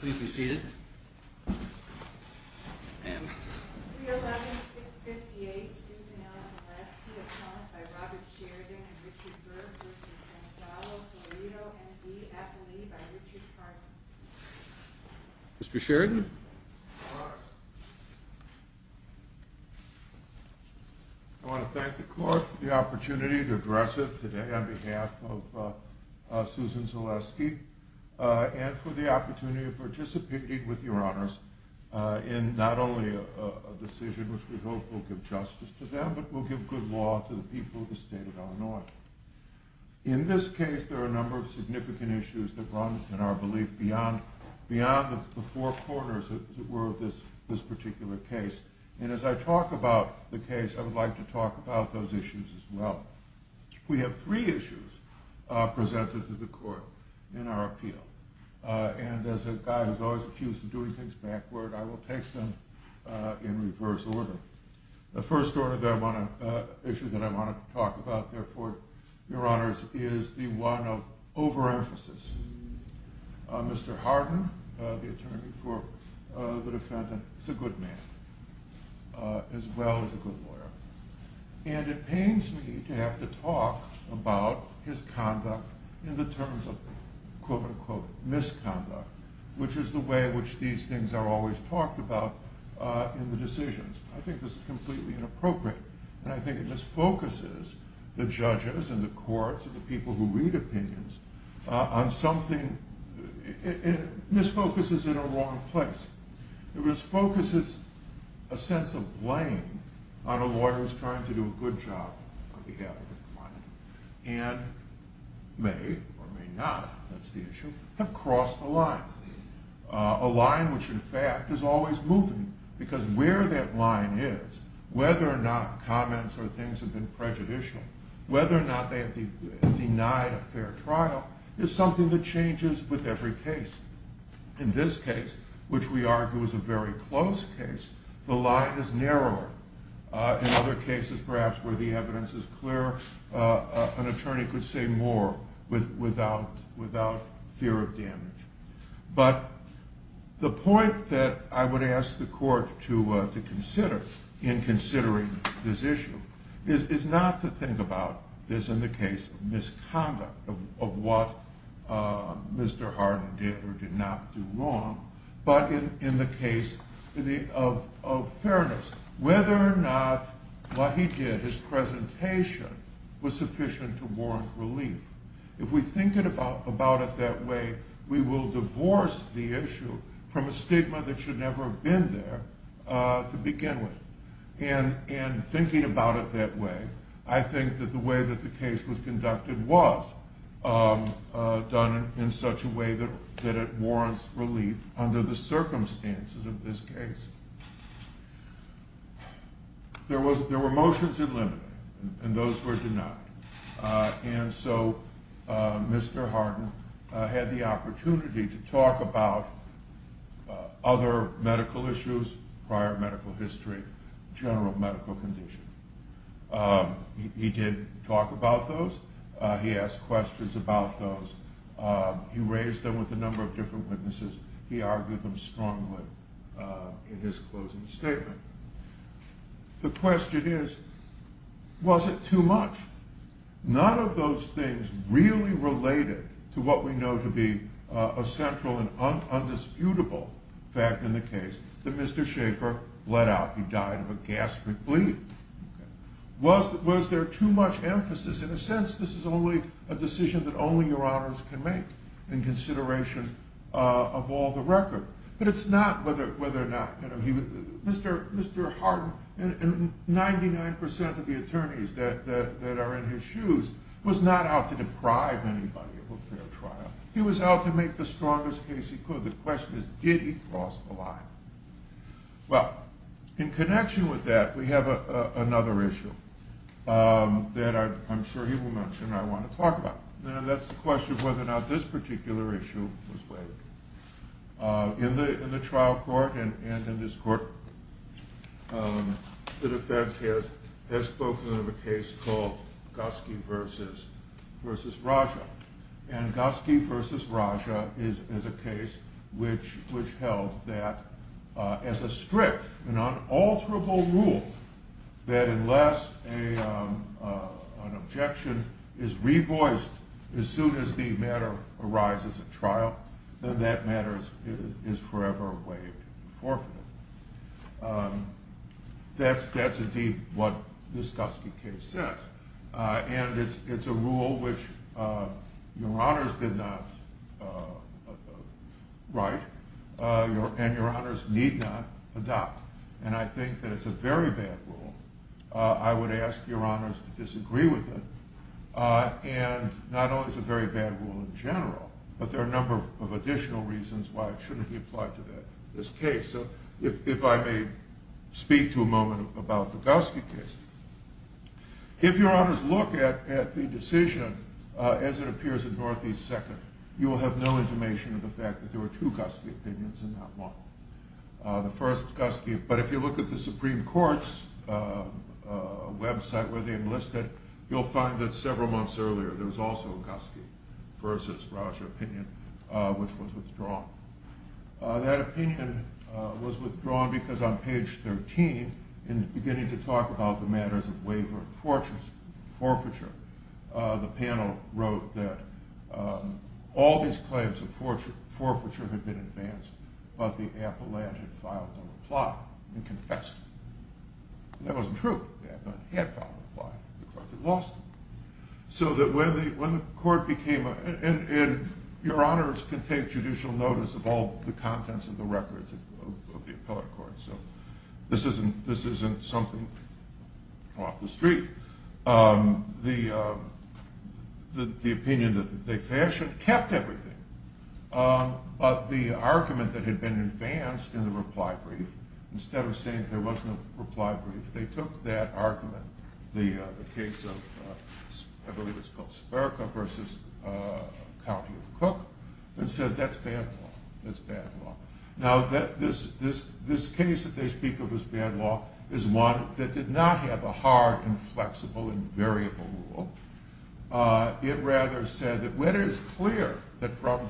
Please be seated. 311-658 Susan Zalesky, a promise by Robert Sheridan and Richard Berg v. Florido, and E. F. Lee v. Richard Hardin. Mr. Sheridan? I want to thank the court for the opportunity to address it today on behalf of Susan Zalesky and for the opportunity of participating with your honors in not only a decision which we hope will give justice to them, but will give good law to the people of the state of Illinois. In this case there are a number of significant issues that run, in our belief, beyond the four corners that were of this particular case. And as I talk about the case, I would like to talk about those issues as well. We have three issues presented to the court in our appeal. And as a guy who is always accused of doing things backward, I will take them in reverse order. The first issue that I want to talk about therefore, your honors, is the one of overemphasis. Mr. Hardin, the attorney for the defendant, is a good man as well as a good lawyer. And it pains me to have to talk about his conduct in the terms of quote unquote misconduct, which is the way in which these things are always talked about in the decisions. I think this is completely inappropriate. And I think it misfocuses the judges and the courts and the people who read opinions on something. It misfocuses in a wrong place. It misfocuses a sense of blame on a lawyer who is trying to do a good job on behalf of his client. And may or may not, that's the issue, have crossed the line. A line which, in fact, is always moving. Because where that line is, whether or not comments or things have been prejudicial, whether or not they have denied a fair trial, is something that changes with every case. In this case, which we argue is a very close case, the line is narrower. In other cases, perhaps, where the evidence is clearer, an attorney could say more without fear of damage. But the point that I would ask the court to consider in considering this issue is not to think about this in the case of misconduct, of what Mr. Hardin did or did not do wrong, but in the case of fairness. Whether or not what he did, his presentation, was sufficient to warrant relief. If we think about it that way, we will divorce the issue from a stigma that should never have been there to begin with. And in thinking about it that way, I think that the way that the case was conducted was done in such a way that it warrants relief under the circumstances of this case. There were motions in limbo, and those were denied. And so Mr. Hardin had the opportunity to talk about other medical issues, prior medical history, general medical condition. He did talk about those. He asked questions about those. He raised them with a number of different witnesses. He argued them strongly in his closing statement. The question is, was it too much? None of those things really related to what we know to be a central and undisputable fact in the case that Mr. Schaefer let out. He died of a gastric bleed. Was there too much emphasis? In a sense, this is only a decision that only your honors can make in consideration of all the record. But it's not whether or not – Mr. Hardin and 99% of the attorneys that are in his shoes was not out to deprive anybody of a fair trial. He was out to make the strongest case he could. The question is, did he cross the line? Well, in connection with that, we have another issue that I'm sure he will mention and I want to talk about. That's the question of whether or not this particular issue was waived. In the trial court and in this court, the defense has spoken of a case called Gotsky v. Raja. And Gotsky v. Raja is a case which held that as a strict and unalterable rule that unless an objection is revoiced as soon as the matter arises at trial, then that matter is forever waived and forfeited. That's indeed what this Gotsky case says. And it's a rule which your honors did not write and your honors need not adopt. And I think that it's a very bad rule. I would ask your honors to disagree with it. And not only is it a very bad rule in general, but there are a number of additional reasons why it shouldn't be applied to this case. If I may speak to a moment about the Gotsky case. If your honors look at the decision as it appears in Northeast Second, you will have no intimation of the fact that there were two Gotsky opinions in that one. The first Gotsky, but if you look at the Supreme Court's website where they enlisted, you'll find that several months earlier there was also a Gotsky v. Raja opinion which was withdrawn. That opinion was withdrawn because on page 13, in beginning to talk about the matters of waiver of forfeiture, the panel wrote that all these claims of forfeiture had been advanced, but the appellant had filed a reply and confessed. That wasn't true. The appellant had filed a reply. The court had lost it. So that when the court became, and your honors can take judicial notice of all the contents of the records of the appellant court, so this isn't something off the street. The opinion that they fashioned kept everything, but the argument that had been advanced in the reply brief, instead of saying there wasn't a reply brief, they took that argument, the case of I believe it's called Sperka v. County of Cook, and said that's bad law. Now this case that they speak of as bad law is one that did not have a hard and flexible and variable rule. It rather said that it is clear that from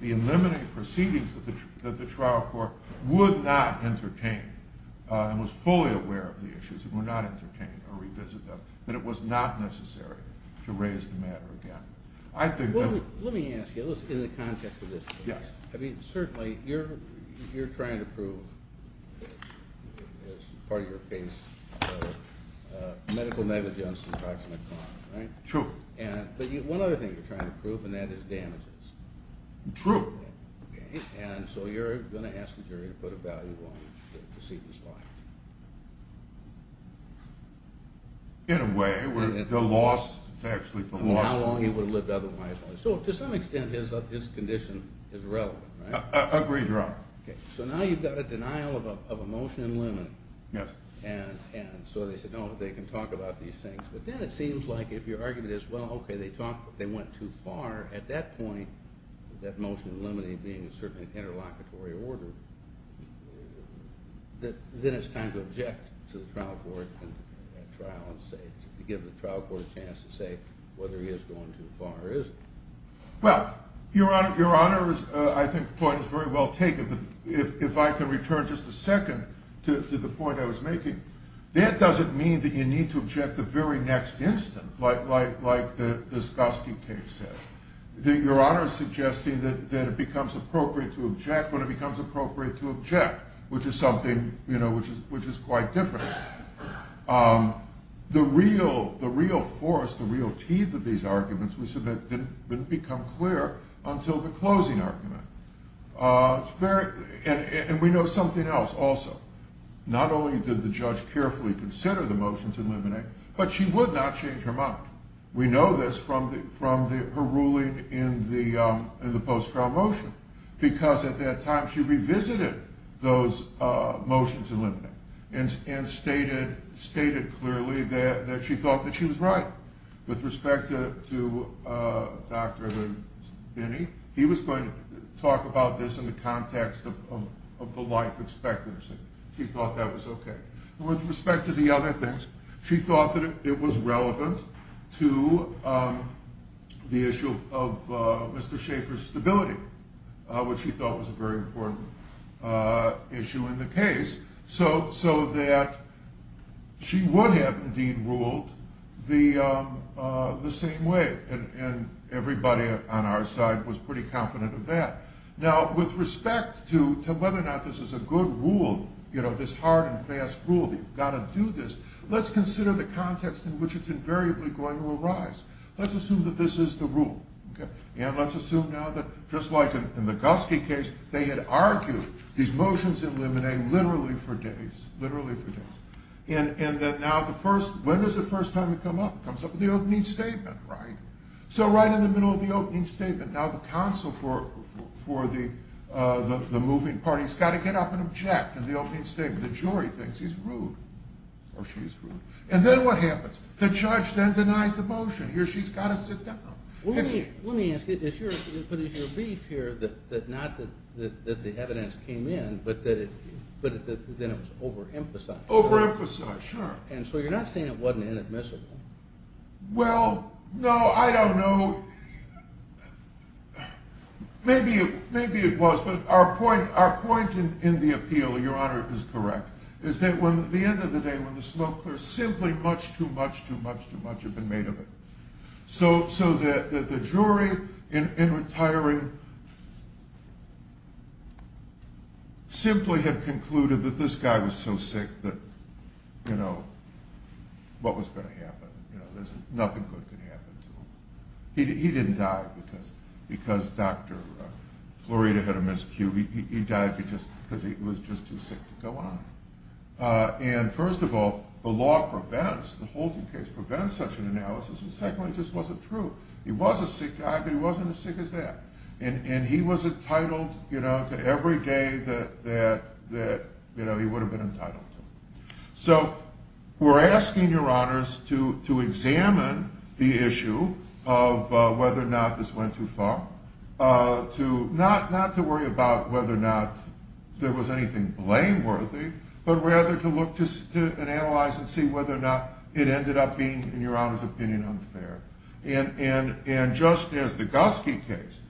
the eliminating proceedings that the trial court would not entertain and was fully aware of the issues, it would not entertain or revisit them, that it was not necessary to raise the matter again. Let me ask you, in the context of this case, certainly you're trying to prove, as part of your case, medical negligence in attacks on a client, right? True. But one other thing you're trying to prove, and that is damages. True. And so you're going to ask the jury to put a value on the proceedings filed. In a way, the loss, it's actually the loss. How long he would have lived otherwise. So to some extent, his condition is relevant, right? Agreed, Your Honor. So now you've got a denial of a motion in limine. Yes. And so they said, no, they can talk about these things. But then it seems like if your argument is, well, okay, they talked, but they went too far, at that point, that motion in limine being a certain interlocutory order, then it's time to object to the trial court, to give the trial court a chance to say whether he is going too far or isn't. Well, Your Honor, I think the point is very well taken, but if I can return just a second to the point I was making, that doesn't mean that you need to object the very next instant, like this Gostin case says. Your Honor is suggesting that it becomes appropriate to object when it becomes appropriate to object, which is something, you know, which is quite different. The real force, the real teeth of these arguments, we submit, didn't become clear until the closing argument. And we know something else also. Not only did the judge carefully consider the motions in limine, but she would not change her mind. We know this from her ruling in the post-trial motion, because at that time she revisited those motions in limine and stated clearly that she thought that she was right with respect to Dr. Binney. He was going to talk about this in the context of the life expectancy. She thought that was okay. With respect to the other things, she thought that it was relevant to the issue of Mr. Schaefer's stability, which she thought was a very important issue in the case, so that she would have, indeed, ruled the same way. And everybody on our side was pretty confident of that. Now, with respect to whether or not this is a good rule, you know, this hard and fast rule, that you've got to do this, let's consider the context in which it's invariably going to arise. Let's assume that this is the rule. And let's assume now that, just like in the Guski case, they had argued these motions in limine literally for days, literally for days. And that now the first, when does the first time it come up? It comes up in the opening statement, right? So right in the middle of the opening statement, now the counsel for the moving party has got to get up and object in the opening statement. The jury thinks he's rude, or she's rude. And then what happens? The judge then denies the motion. Here she's got to sit down. Let me ask you, is your beef here that not that the evidence came in, but that then it was overemphasized? Overemphasized, sure. And so you're not saying it wasn't inadmissible? Well, no, I don't know. Maybe it was, but our point in the appeal, Your Honor, is correct, is that at the end of the day when the smoke clears, simply much too much, too much, too much had been made of it. So the jury in retiring simply had concluded that this guy was so sick that, you know, what was going to happen? Nothing good could happen to him. He didn't die because Dr. Florida had a miscue. He died because he was just too sick to go on. And first of all, the law prevents, the Holting case prevents such an analysis. And secondly, it just wasn't true. He was a sick guy, but he wasn't as sick as that. And he was entitled to every day that he would have been entitled to. So we're asking Your Honors to examine the issue of whether or not this went too far, not to worry about whether or not there was anything blameworthy, but rather to look and analyze and see whether or not it ended up being, in Your Honor's opinion, unfair. And just as the Guski case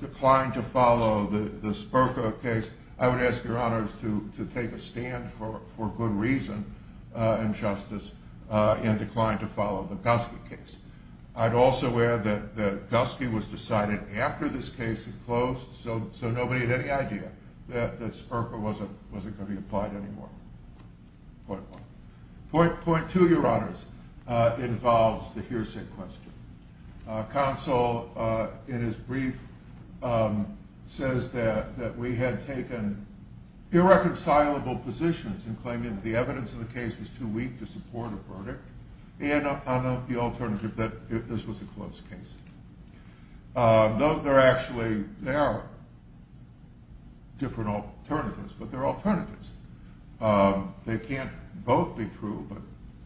declined to follow the Spurko case, I would ask Your Honors to take a stand for good reason and justice and decline to follow the Guski case. I'd also add that Guski was decided after this case had closed, so nobody had any idea that Spurko wasn't going to be applied anymore. Point one. Point two, Your Honors, involves the hearsay question. Counsel, in his brief, says that we had taken irreconcilable positions in claiming that the evidence in the case was too weak to support a verdict and on the alternative that this was a closed case. Though there actually are different alternatives, but they're alternatives. They can't both be true, but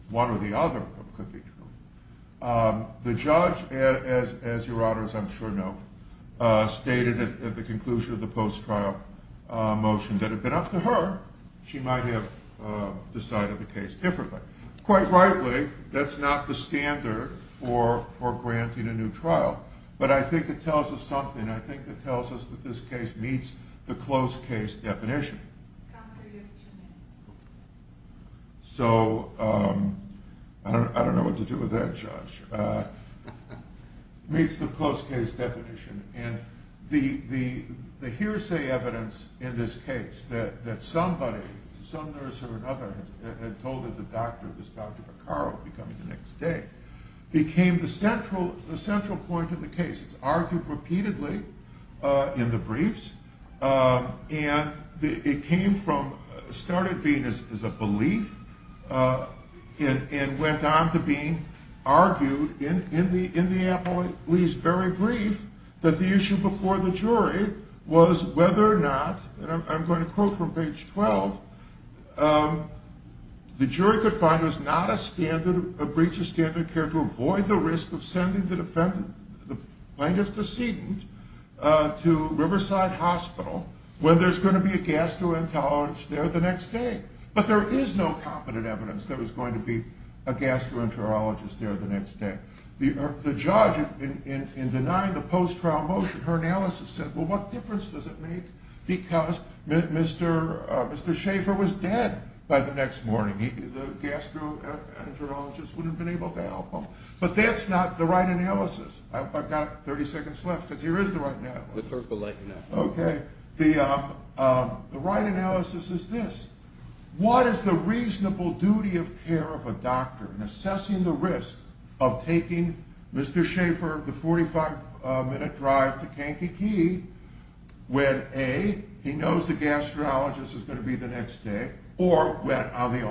one or the other could be true. The judge, as Your Honors I'm sure know, stated at the conclusion of the post-trial motion that it had been up to her, she might have decided the case differently. Quite rightly, that's not the standard for granting a new trial, but I think it tells us something. I think it tells us that this case meets the closed case definition. Counsel, you have two minutes. So I don't know what to do with that, Judge. It meets the closed case definition, and the hearsay evidence in this case that somebody, some nurse or another, had told her the doctor, this Dr. Piccaro becoming the next day, became the central point of the case. It's argued repeatedly in the briefs, and it came from, started being as a belief, and went on to being argued in the appellee's very brief that the issue before the jury was whether or not, and I'm going to quote from page 12, the jury could find it was not a breach of standard care to avoid the risk of sending the plaintiff's decedent to Riverside Hospital when there's going to be a gastroenterologist there the next day. But there is no competent evidence there was going to be a gastroenterologist there the next day. The judge, in denying the post-trial motion, her analysis said, well, what difference does it make? Because Mr. Schaefer was dead by the next morning. The gastroenterologist wouldn't have been able to help him. But that's not the right analysis. I've got 30 seconds left, because here is the right analysis. Okay. The right analysis is this. What is the reasonable duty of care of a doctor in assessing the risk of taking Mr. Schaefer the 45-minute drive to Kankakee when, A, he knows the gastroenterologist is going to be there the next day, or when, on the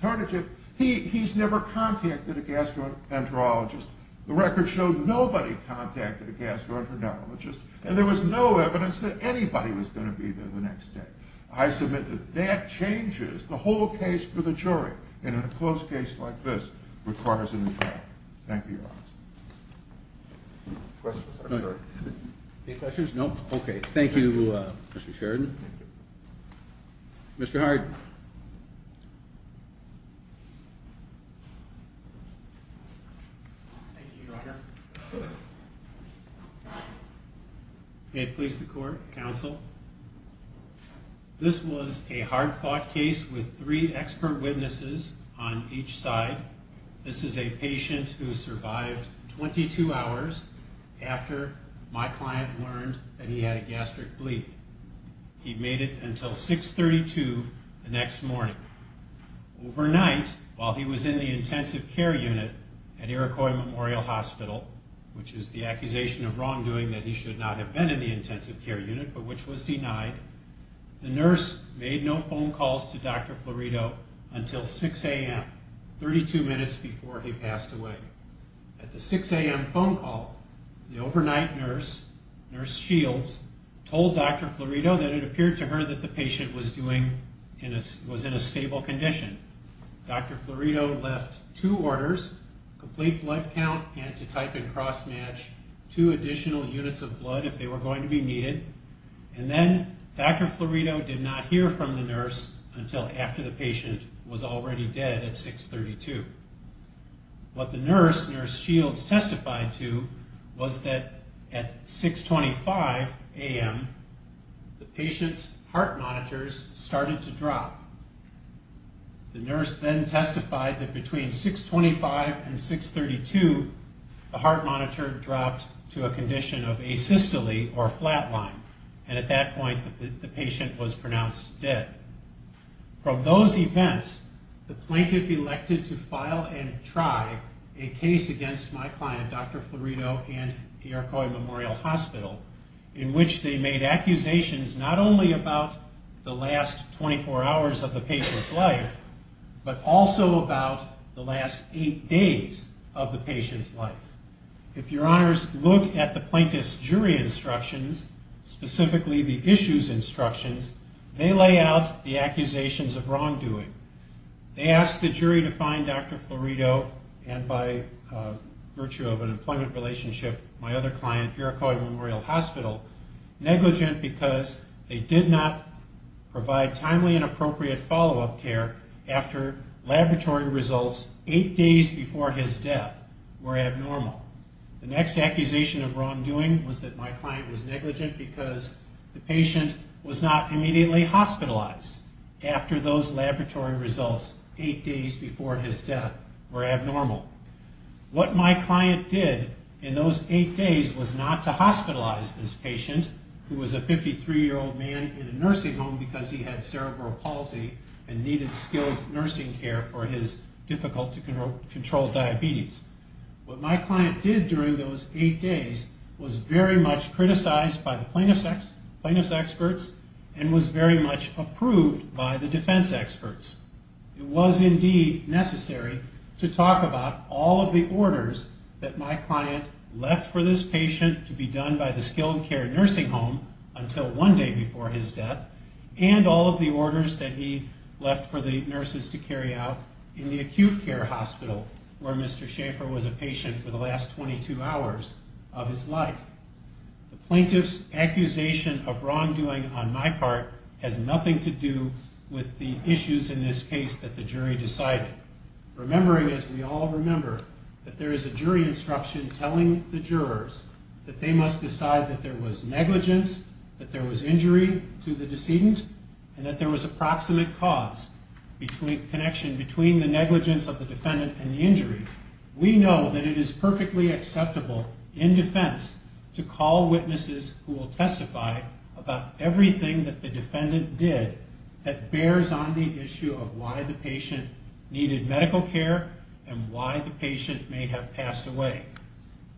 alternative, he's never contacted a gastroenterologist. The record shows nobody contacted a gastroenterologist, and there was no evidence that anybody was going to be there the next day. I submit that that changes the whole case for the jury, and a close case like this requires a new trial. Thank you, Your Honor. Questions? Any questions? No? Okay. Thank you, Mr. Sheridan. Mr. Harden. Thank you, Your Honor. May it please the court, counsel. This was a hard-fought case with three expert witnesses on each side. This is a patient who survived 22 hours after my client learned that he had a gastric bleed. He made it until 6.32 the next morning. Overnight, while he was in the intensive care unit at Iroquois Memorial Hospital, which is the accusation of wrongdoing that he should not have been in the intensive care unit, but which was denied, the nurse made no phone calls to Dr. Florido until 6 a.m., 32 minutes before he passed away. At the 6 a.m. phone call, the overnight nurse, Nurse Shields, told Dr. Florido that it appeared to her that the patient was in a stable condition. Dr. Florido left two orders, complete blood count, and to type and cross-match two additional units of blood if they were going to be needed. And then Dr. Florido did not hear from the nurse until after the patient was already dead at 6.32. What the nurse, Nurse Shields, testified to was that at 6.25 a.m., the patient's heart monitors started to drop. The nurse then testified that between 6.25 and 6.32, the heart monitor dropped to a condition of asystole, or flatline, and at that point the patient was pronounced dead. From those events, the plaintiff elected to file and try a case against my client, Dr. Florido and Iroquois Memorial Hospital, in which they made accusations not only about the last 24 hours of the patient's life, but also about the last eight days of the patient's life. If your honors look at the plaintiff's jury instructions, specifically the issues instructions, they lay out the accusations of wrongdoing. They asked the jury to find Dr. Florido, and by virtue of an employment relationship, my other client, Iroquois Memorial Hospital, negligent because they did not provide timely and appropriate follow-up care after laboratory results eight days before his death were abnormal. The next accusation of wrongdoing was that my client was negligent because the patient was not immediately hospitalized after those laboratory results eight days before his death were abnormal. What my client did in those eight days was not to hospitalize this patient, who was a 53-year-old man in a nursing home because he had cerebral palsy and needed skilled nursing care for his difficult-to-control diabetes. What my client did during those eight days was very much criticized by the plaintiff's experts and was very much approved by the defense experts. It was indeed necessary to talk about all of the orders that my client left for this patient to be done by the skilled care nursing home until one day before his death and all of the orders that he left for the nurses to carry out in the acute care hospital where Mr. Schaefer was a patient for the last 22 hours of his life. The plaintiff's accusation of wrongdoing on my part has nothing to do with the issues in this case that the jury decided. Remembering, as we all remember, that there is a jury instruction telling the jurors that they must decide that there was negligence, that there was injury to the decedent, and that there was approximate connection between the negligence of the defendant and the injury, we know that it is perfectly acceptable in defense to call witnesses who will testify about everything that the defendant did that bears on the issue of why the patient needed medical care and why the patient may have passed away.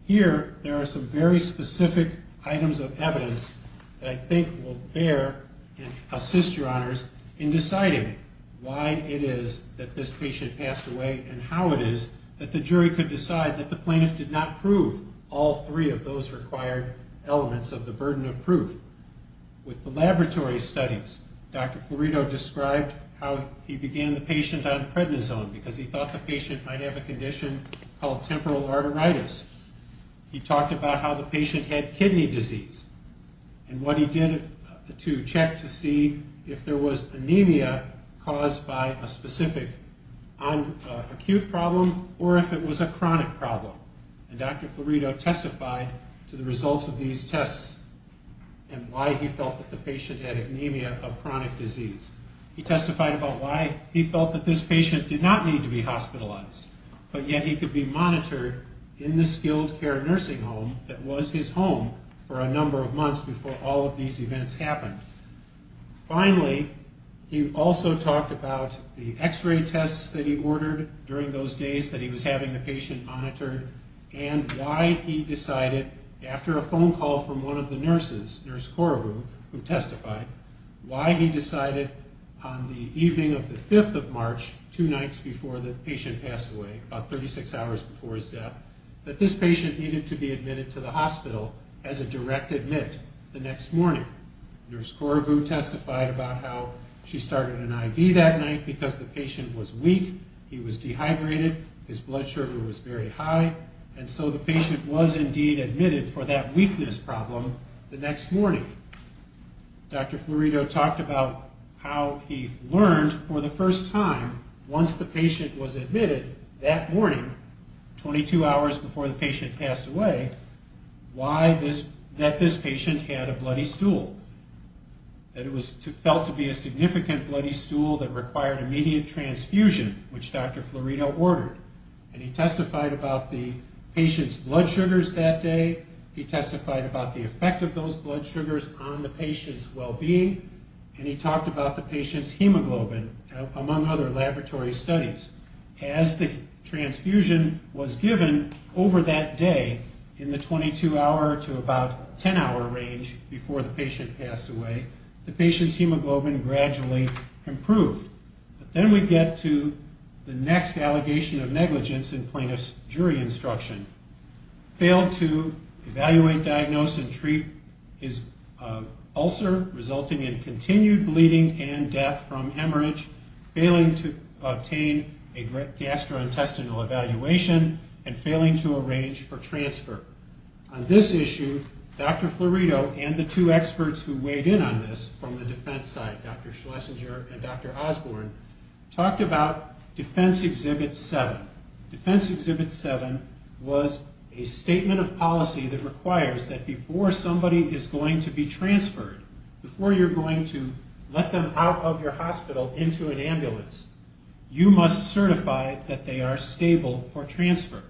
Here, there are some very specific items of evidence that I think will bear and assist your honors in deciding why it is that this patient passed away and how it is that the jury could decide that the plaintiff did not prove all three of those required elements of the burden of proof. With the laboratory studies, Dr. Florido described how he began the patient on prednisone because he thought the patient might have a condition called temporal arteritis. He talked about how the patient had kidney disease and what he did to check to see if there was anemia caused by a specific acute problem or if it was a chronic problem. And Dr. Florido testified to the results of these tests and why he felt that the patient had anemia of chronic disease. He testified about why he felt that this patient did not need to be hospitalized, but yet he could be monitored in the skilled care nursing home that was his home for a number of months before all of these events happened. Finally, he also talked about the x-ray tests that he ordered during those days that he was having the patient monitored and why he decided, after a phone call from one of the nurses, Nurse Korovu, who testified, why he decided on the evening of the 5th of March, two nights before the patient passed away, about 36 hours before his death, that this patient needed to be admitted to the hospital as a direct admit the next morning. Nurse Korovu testified about how she started an IV that night because the patient was weak, he was dehydrated, his blood sugar was very high, and so the patient was indeed admitted for that weakness problem the next morning. Dr. Florido talked about how he learned for the first time once the patient was admitted that morning, 22 hours before the patient passed away, that this patient had a bloody stool, that it was felt to be a significant bloody stool that required immediate transfusion, which Dr. Florido ordered, and he testified about the patient's blood sugars that day, he testified about the effect of those blood sugars on the patient's well-being, and he talked about the patient's hemoglobin, among other laboratory studies. As the transfusion was given over that day, in the 22-hour to about 10-hour range, before the patient passed away, the patient's hemoglobin gradually improved. Then we get to the next allegation of negligence in plaintiff's jury instruction. Failed to evaluate, diagnose, and treat his ulcer, resulting in continued bleeding and death from hemorrhage, failing to obtain a gastrointestinal evaluation, and failing to arrange for transfer. On this issue, Dr. Florido and the two experts who weighed in on this, from the defense side, Dr. Schlesinger and Dr. Osborne, talked about Defense Exhibit 7. Defense Exhibit 7 was a statement of policy that requires that before somebody is going to be transferred, before you're going to let them out of your hospital into an ambulance, you must certify that they are stable for transfer.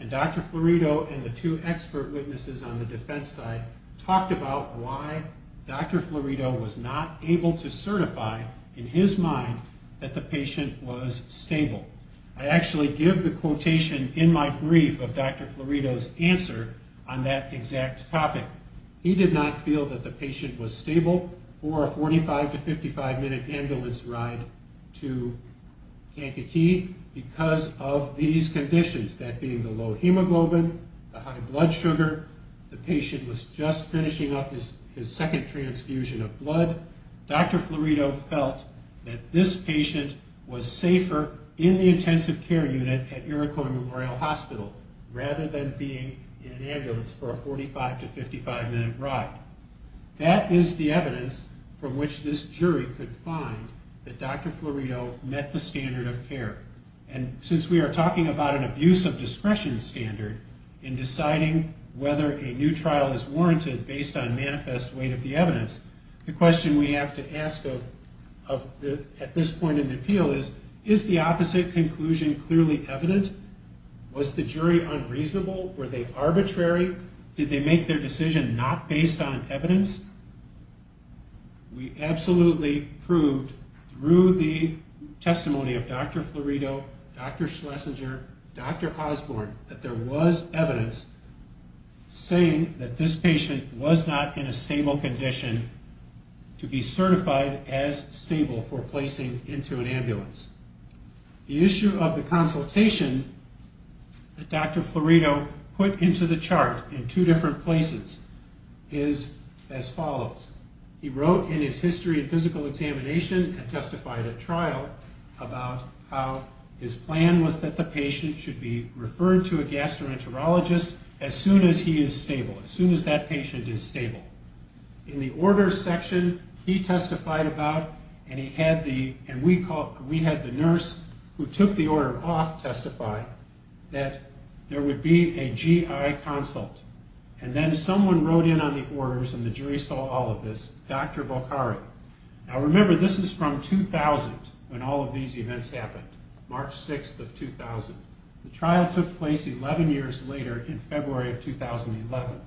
And Dr. Florido and the two expert witnesses on the defense side talked about why Dr. Florido was not able to certify, in his mind, that the patient was stable. I actually give the quotation in my brief of Dr. Florido's answer on that exact topic. He did not feel that the patient was stable for a 45- to 55-minute ambulance ride to Kankakee because of these conditions, that being the low hemoglobin, the high blood sugar, the patient was just finishing up his second transfusion of blood. Dr. Florido felt that this patient was safer in the intensive care unit at Iroquois Memorial Hospital rather than being in an ambulance for a 45- to 55-minute ride. That is the evidence from which this jury could find that Dr. Florido met the standard of care. And since we are talking about an abuse of discretion standard in deciding whether a new trial is warranted based on manifest weight of the evidence, the question we have to ask at this point in the appeal is, is the opposite conclusion clearly evident? Was the jury unreasonable? Were they arbitrary? Did they make their decision not based on evidence? We absolutely proved through the testimony of Dr. Florido, Dr. Schlesinger, Dr. Osborne, that there was evidence saying that this patient was not in a stable condition to be certified as stable for placing into an ambulance. The issue of the consultation that Dr. Florido put into the chart in two different places is as follows. He wrote in his history of physical examination and testified at trial about how his plan was that the patient should be referred to a gastroenterologist as soon as he is stable, as soon as that patient is stable. In the order section, he testified about, and we had the nurse who took the order off testify, that there would be a GI consult. And then someone wrote in on the orders, and the jury saw all of this, Dr. Bokhari. Now remember, this is from 2000 when all of these events happened, March 6th of 2000. The trial took place 11 years later in February of 2011.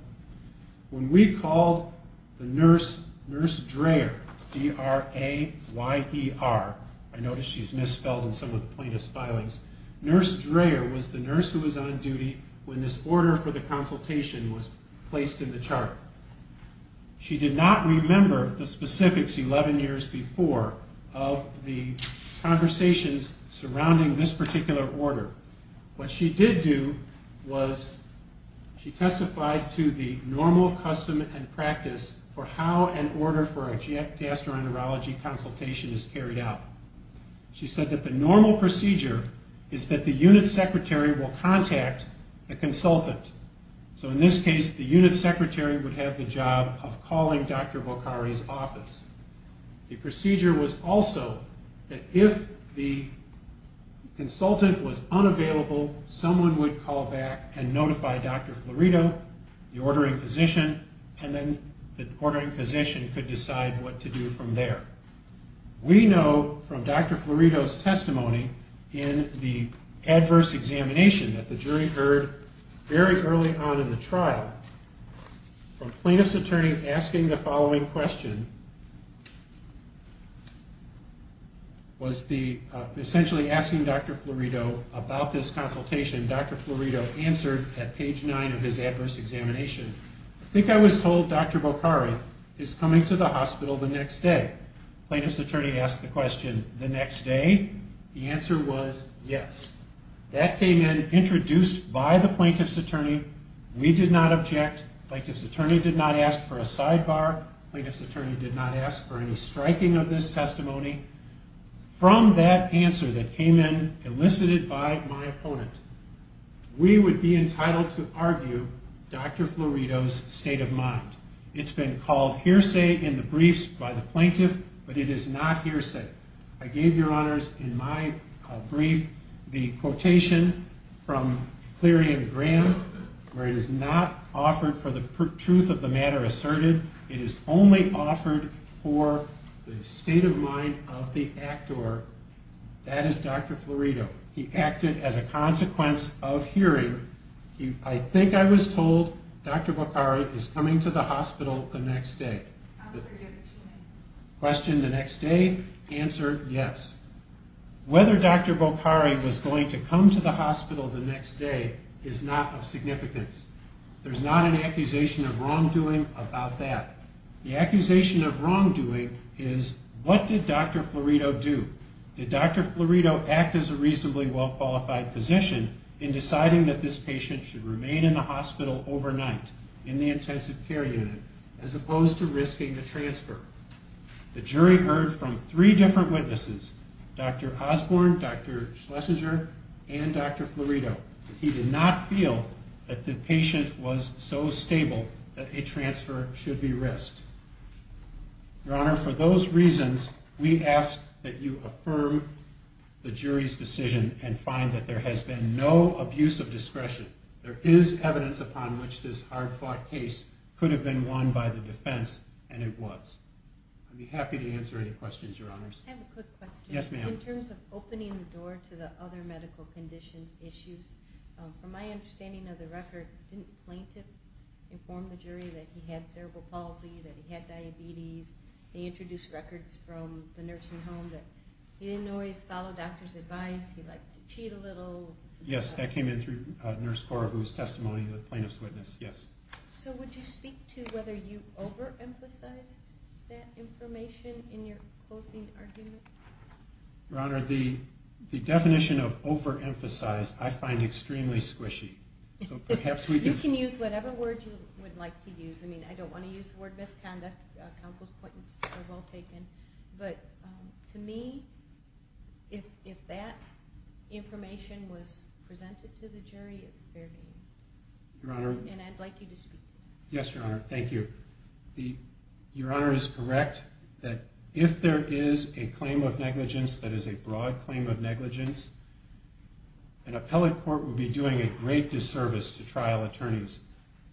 When we called the nurse, Nurse Dreher, D-R-A-Y-E-R. I notice she's misspelled in some of the plaintiff's filings. Nurse Dreher was the nurse who was on duty when this order for the consultation was placed in the chart. She did not remember the specifics 11 years before of the conversations surrounding this particular order. What she did do was she testified to the normal custom and practice for how an order for a gastroenterology consultation is carried out. She said that the normal procedure is that the unit secretary will contact the consultant. So in this case, the unit secretary would have the job of calling Dr. Bokhari's office. The procedure was also that if the consultant was unavailable, someone would call back and notify Dr. Florido, the ordering physician, and then the ordering physician could decide what to do from there. We know from Dr. Florido's testimony in the adverse examination that the jury heard very early on in the trial from plaintiff's attorney asking the following question, was essentially asking Dr. Florido about this consultation. Dr. Florido answered at page 9 of his adverse examination, I think I was told Dr. Bokhari is coming to the hospital the next day. Plaintiff's attorney asked the question, the next day? The answer was yes. That came in, introduced by the plaintiff's attorney. We did not object. Plaintiff's attorney did not ask for a sidebar. Plaintiff's attorney did not ask for any striking of this testimony. From that answer that came in, elicited by my opponent, we would be entitled to argue Dr. Florido's state of mind. It's been called hearsay in the briefs by the plaintiff, but it is not hearsay. I gave your honors in my brief the quotation from Cleary and Graham, where it is not offered for the truth of the matter asserted. It is only offered for the state of mind of the actor. That is Dr. Florido. He acted as a consequence of hearing. I think I was told Dr. Bokhari is coming to the hospital the next day. Question, the next day? Answer, yes. Whether Dr. Bokhari was going to come to the hospital the next day is not of significance. There's not an accusation of wrongdoing about that. The accusation of wrongdoing is, what did Dr. Florido do? Did Dr. Florido act as a reasonably well-qualified physician in deciding that this patient should remain in the hospital overnight, in the intensive care unit, as opposed to risking a transfer? The jury heard from three different witnesses, Dr. Osborne, Dr. Schlesinger, and Dr. Florido. He did not feel that the patient was so stable that a transfer should be risked. Your Honor, for those reasons, we ask that you affirm the jury's decision and find that there has been no abuse of discretion. There is evidence upon which this hard-fought case could have been won by the defense, and it was. I'd be happy to answer any questions, Your Honors. I have a quick question. Yes, ma'am. In terms of opening the door to the other medical conditions issues, from my understanding of the record, didn't the plaintiff inform the jury that he had cerebral palsy, that he had diabetes? They introduced records from the nursing home that he didn't always follow doctor's advice. He liked to cheat a little. Yes, that came in through Nurse Cora, whose testimony the plaintiffs witnessed. So would you speak to whether you overemphasized that information in your closing argument? Your Honor, the definition of overemphasized I find extremely squishy. You can use whatever word you would like to use. I mean, I don't want to use the word misconduct. Counsel's points are well taken. But to me, if that information was presented to the jury, it's fair game. And I'd like you to speak to that. Yes, Your Honor. Thank you. Your Honor is correct that if there is a claim of negligence that is a broad claim of negligence, an appellate court would be doing a great disservice to trial attorneys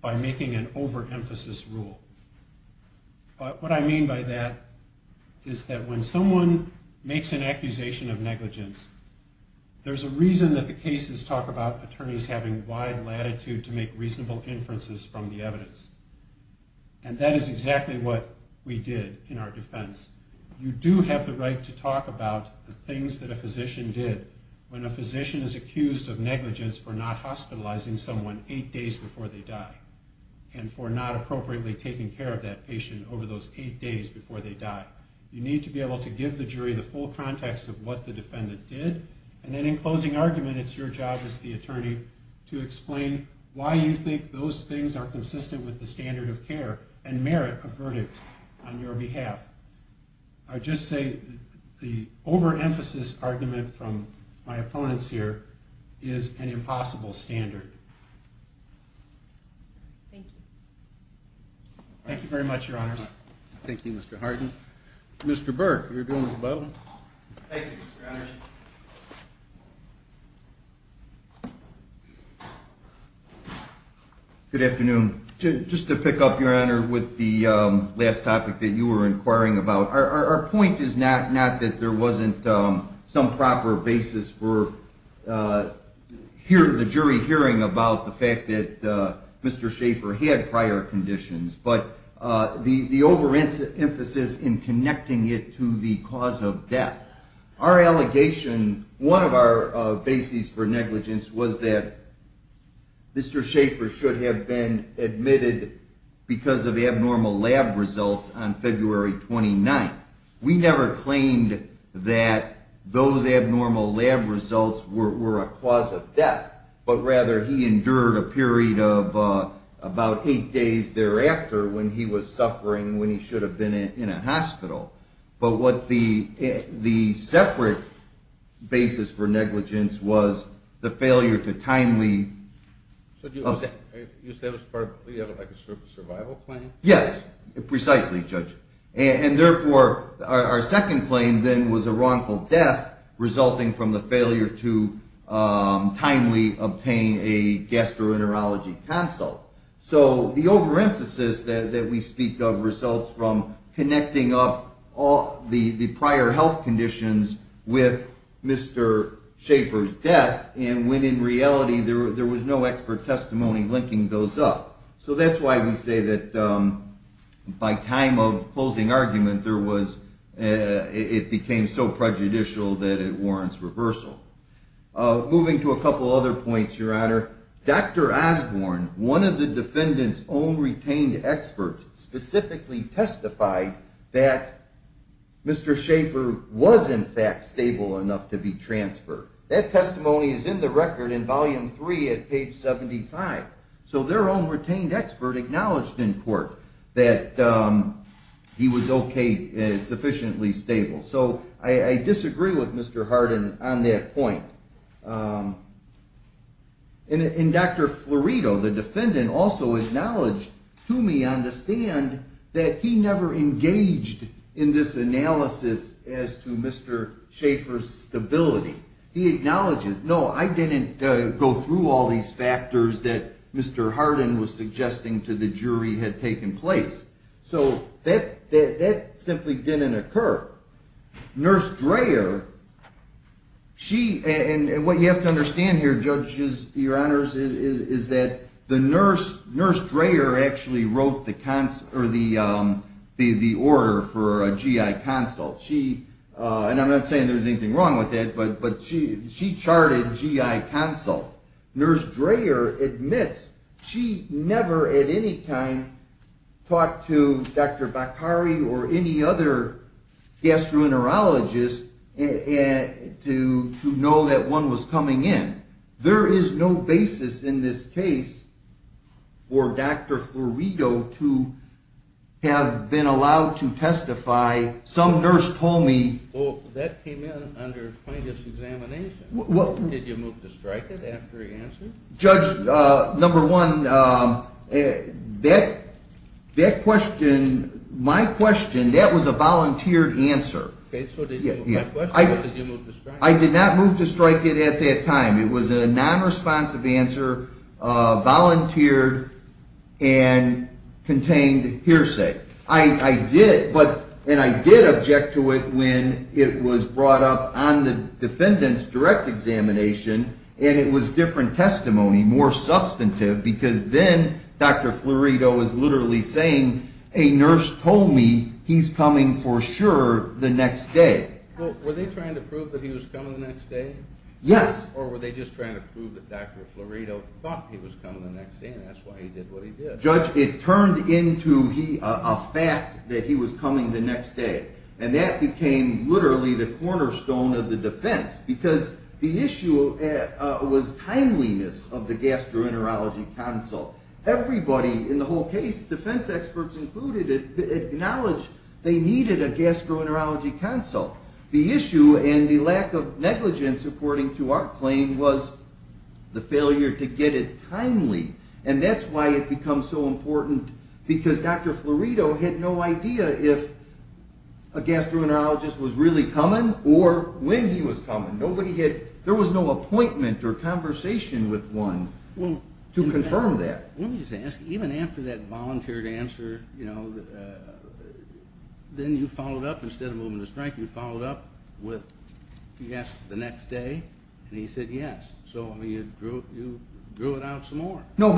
by making an overemphasized rule. But what I mean by that is that when someone makes an accusation of negligence, there's a reason that the cases talk about attorneys having wide latitude to make reasonable inferences from the evidence. And that is exactly what we did in our defense. You do have the right to talk about the things that a physician did when a physician is accused of negligence for not hospitalizing someone eight days before they die and for not appropriately taking care of that patient over those eight days before they die. You need to be able to give the jury the full context of what the defendant did. And then in closing argument, it's your job as the attorney to explain why you think those things are consistent with the standard of care and merit a verdict on your behalf. I just say the overemphasized argument from my opponents here is an impossible standard. Thank you. Thank you very much, Your Honors. Thank you, Mr. Hardin. Mr. Burke, you're doing well. Thank you, Your Honors. Good afternoon. Just to pick up, Your Honor, with the last topic that you were inquiring about, our point is not that there wasn't some proper basis for the jury hearing about the fact that Mr. Schaefer had prior conditions, but the overemphasis in connecting it to the cause of death. Our allegation, one of our bases for negligence was that Mr. Schaefer should have been admitted because of abnormal lab results on February 29th. We never claimed that those abnormal lab results were a cause of death, but rather he endured a period of about eight days thereafter when he was suffering when he should have been in a hospital. But what the separate basis for negligence was the failure to timely… You said it was part of a survival plan? Yes, precisely, Judge. And therefore, our second claim then was a wrongful death resulting from the failure to timely obtain a gastroenterology consult. So the overemphasis that we speak of results from connecting up the prior health conditions with Mr. Schaefer's death, and when in reality there was no expert testimony linking those up. So that's why we say that by time of closing argument it became so prejudicial that it warrants reversal. Moving to a couple other points, Your Honor. Dr. Osborne, one of the defendant's own retained experts, specifically testified that Mr. Schaefer was in fact stable enough to be transferred. That testimony is in the record in Volume 3 at page 75. So their own retained expert acknowledged in court that he was okay, sufficiently stable. So I disagree with Mr. Hardin on that point. And Dr. Florido, the defendant, also acknowledged to me on the stand that he never engaged in this analysis as to Mr. Schaefer's stability. He acknowledges, no, I didn't go through all these factors that Mr. Hardin was suggesting to the jury had taken place. So that simply didn't occur. Nurse Dreher, and what you have to understand here, Judge, is that Nurse Dreher actually wrote the order for a GI consult. And I'm not saying there's anything wrong with that, but she charted GI consult. Nurse Dreher admits she never at any time talked to Dr. Bakari or any other gastroenterologist to know that one was coming in. There is no basis in this case for Dr. Florido to have been allowed to testify. Well, that came in under plaintiff's examination. Did you move to strike it after he answered? Judge, number one, that question, my question, that was a volunteered answer. Okay, so my question was, did you move to strike it? I did not move to strike it at that time. It was a nonresponsive answer, volunteered, and contained hearsay. I did, and I did object to it when it was brought up on the defendant's direct examination, and it was different testimony, more substantive, because then Dr. Florido was literally saying, a nurse told me he's coming for sure the next day. Well, were they trying to prove that he was coming the next day? Yes. Or were they just trying to prove that Dr. Florido thought he was coming the next day, and that's why he did what he did? Judge, it turned into a fact that he was coming the next day, and that became literally the cornerstone of the defense, because the issue was timeliness of the gastroenterology consult. Everybody in the whole case, defense experts included, acknowledged they needed a gastroenterology consult. The issue and the lack of negligence, according to our claim, was the failure to get it timely, and that's why it becomes so important, because Dr. Florido had no idea if a gastroenterologist was really coming or when he was coming. There was no appointment or conversation with one to confirm that. Let me just ask, even after that volunteered answer, then you followed up, instead of moving the strike, you followed up with yes the next day, and he said yes, so you drew it out some more. No,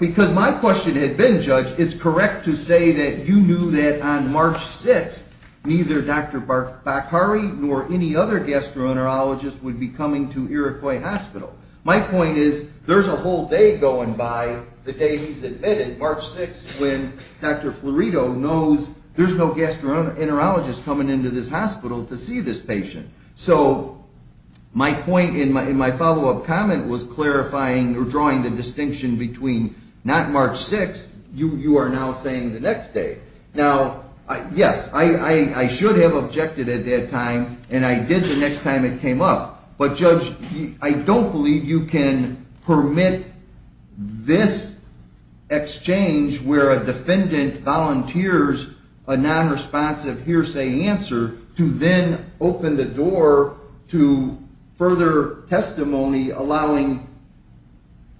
because my question had been, Judge, it's correct to say that you knew that on March 6th, neither Dr. Bakhari nor any other gastroenterologist would be coming to Iroquois Hospital. My point is, there's a whole day going by the day he's admitted, March 6th, when Dr. Florido knows there's no gastroenterologist coming into this hospital to see this patient. So my point in my follow-up comment was clarifying or drawing the distinction between not March 6th, you are now saying the next day. Now, yes, I should have objected at that time, and I did the next time it came up. But, Judge, I don't believe you can permit this exchange where a defendant volunteers a nonresponsive hearsay answer to then open the door to further testimony allowing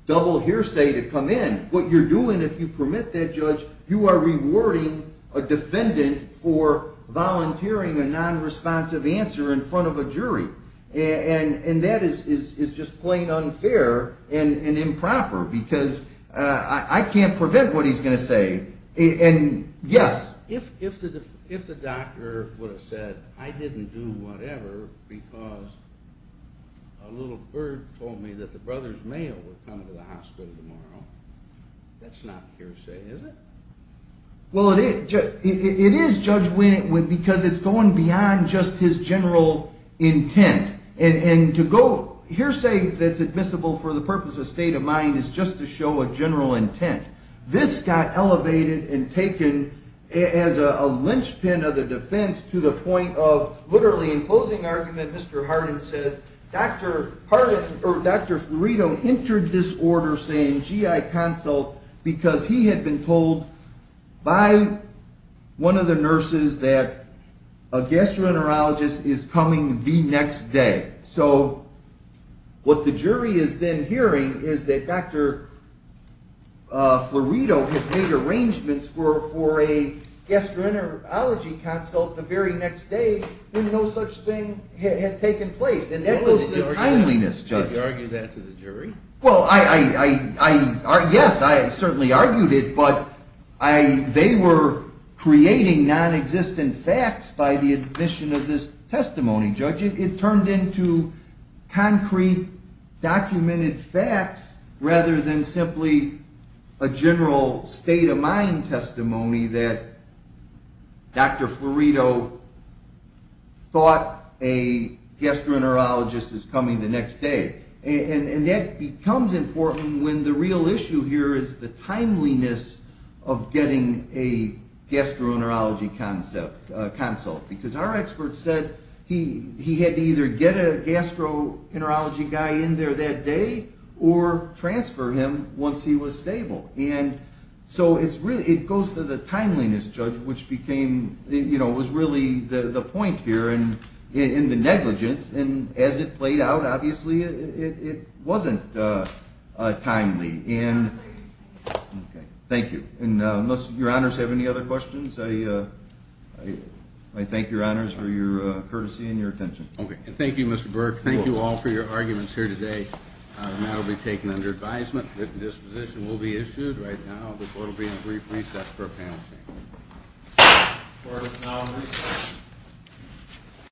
double hearsay to come in. What you're doing, if you permit that, Judge, you are rewarding a defendant for volunteering a nonresponsive answer in front of a jury, and that is just plain unfair and improper, because I can't prevent what he's going to say. If the doctor would have said, I didn't do whatever because a little bird told me that the brother's male was coming to the hospital tomorrow, that's not hearsay, is it? Well, it is, Judge, because it's going beyond just his general intent. And to go hearsay that's admissible for the purpose of state of mind is just to show a general intent. This got elevated and taken as a linchpin of the defense to the point of literally, in closing argument, Mr. Hardin says, Dr. Fiorito entered this order saying GI consult because he had been told by one of the nurses that a gastroenterologist is coming the next day. So what the jury is then hearing is that Dr. Fiorito has made arrangements for a gastroenterology consult the very next day when no such thing had taken place. And that was the kindliness, Judge. Did you argue that to the jury? And that becomes important when the real issue here is the timeliness of getting a gastroenterology consult, because our expert said he had to either get a gastroenterology guy in there that day or transfer him once he was stable. And so it goes to the timeliness, Judge, which was really the point here in the negligence. And as it played out, obviously it wasn't timely. Thank you. And unless your honors have any other questions, I thank your honors for your courtesy and your attention. Okay. Thank you, Mr. Burke. Thank you all for your arguments here today. And that will be taken under advisement. The disposition will be issued right now. The court will be in brief recess for a panel meeting. Court is now in recess.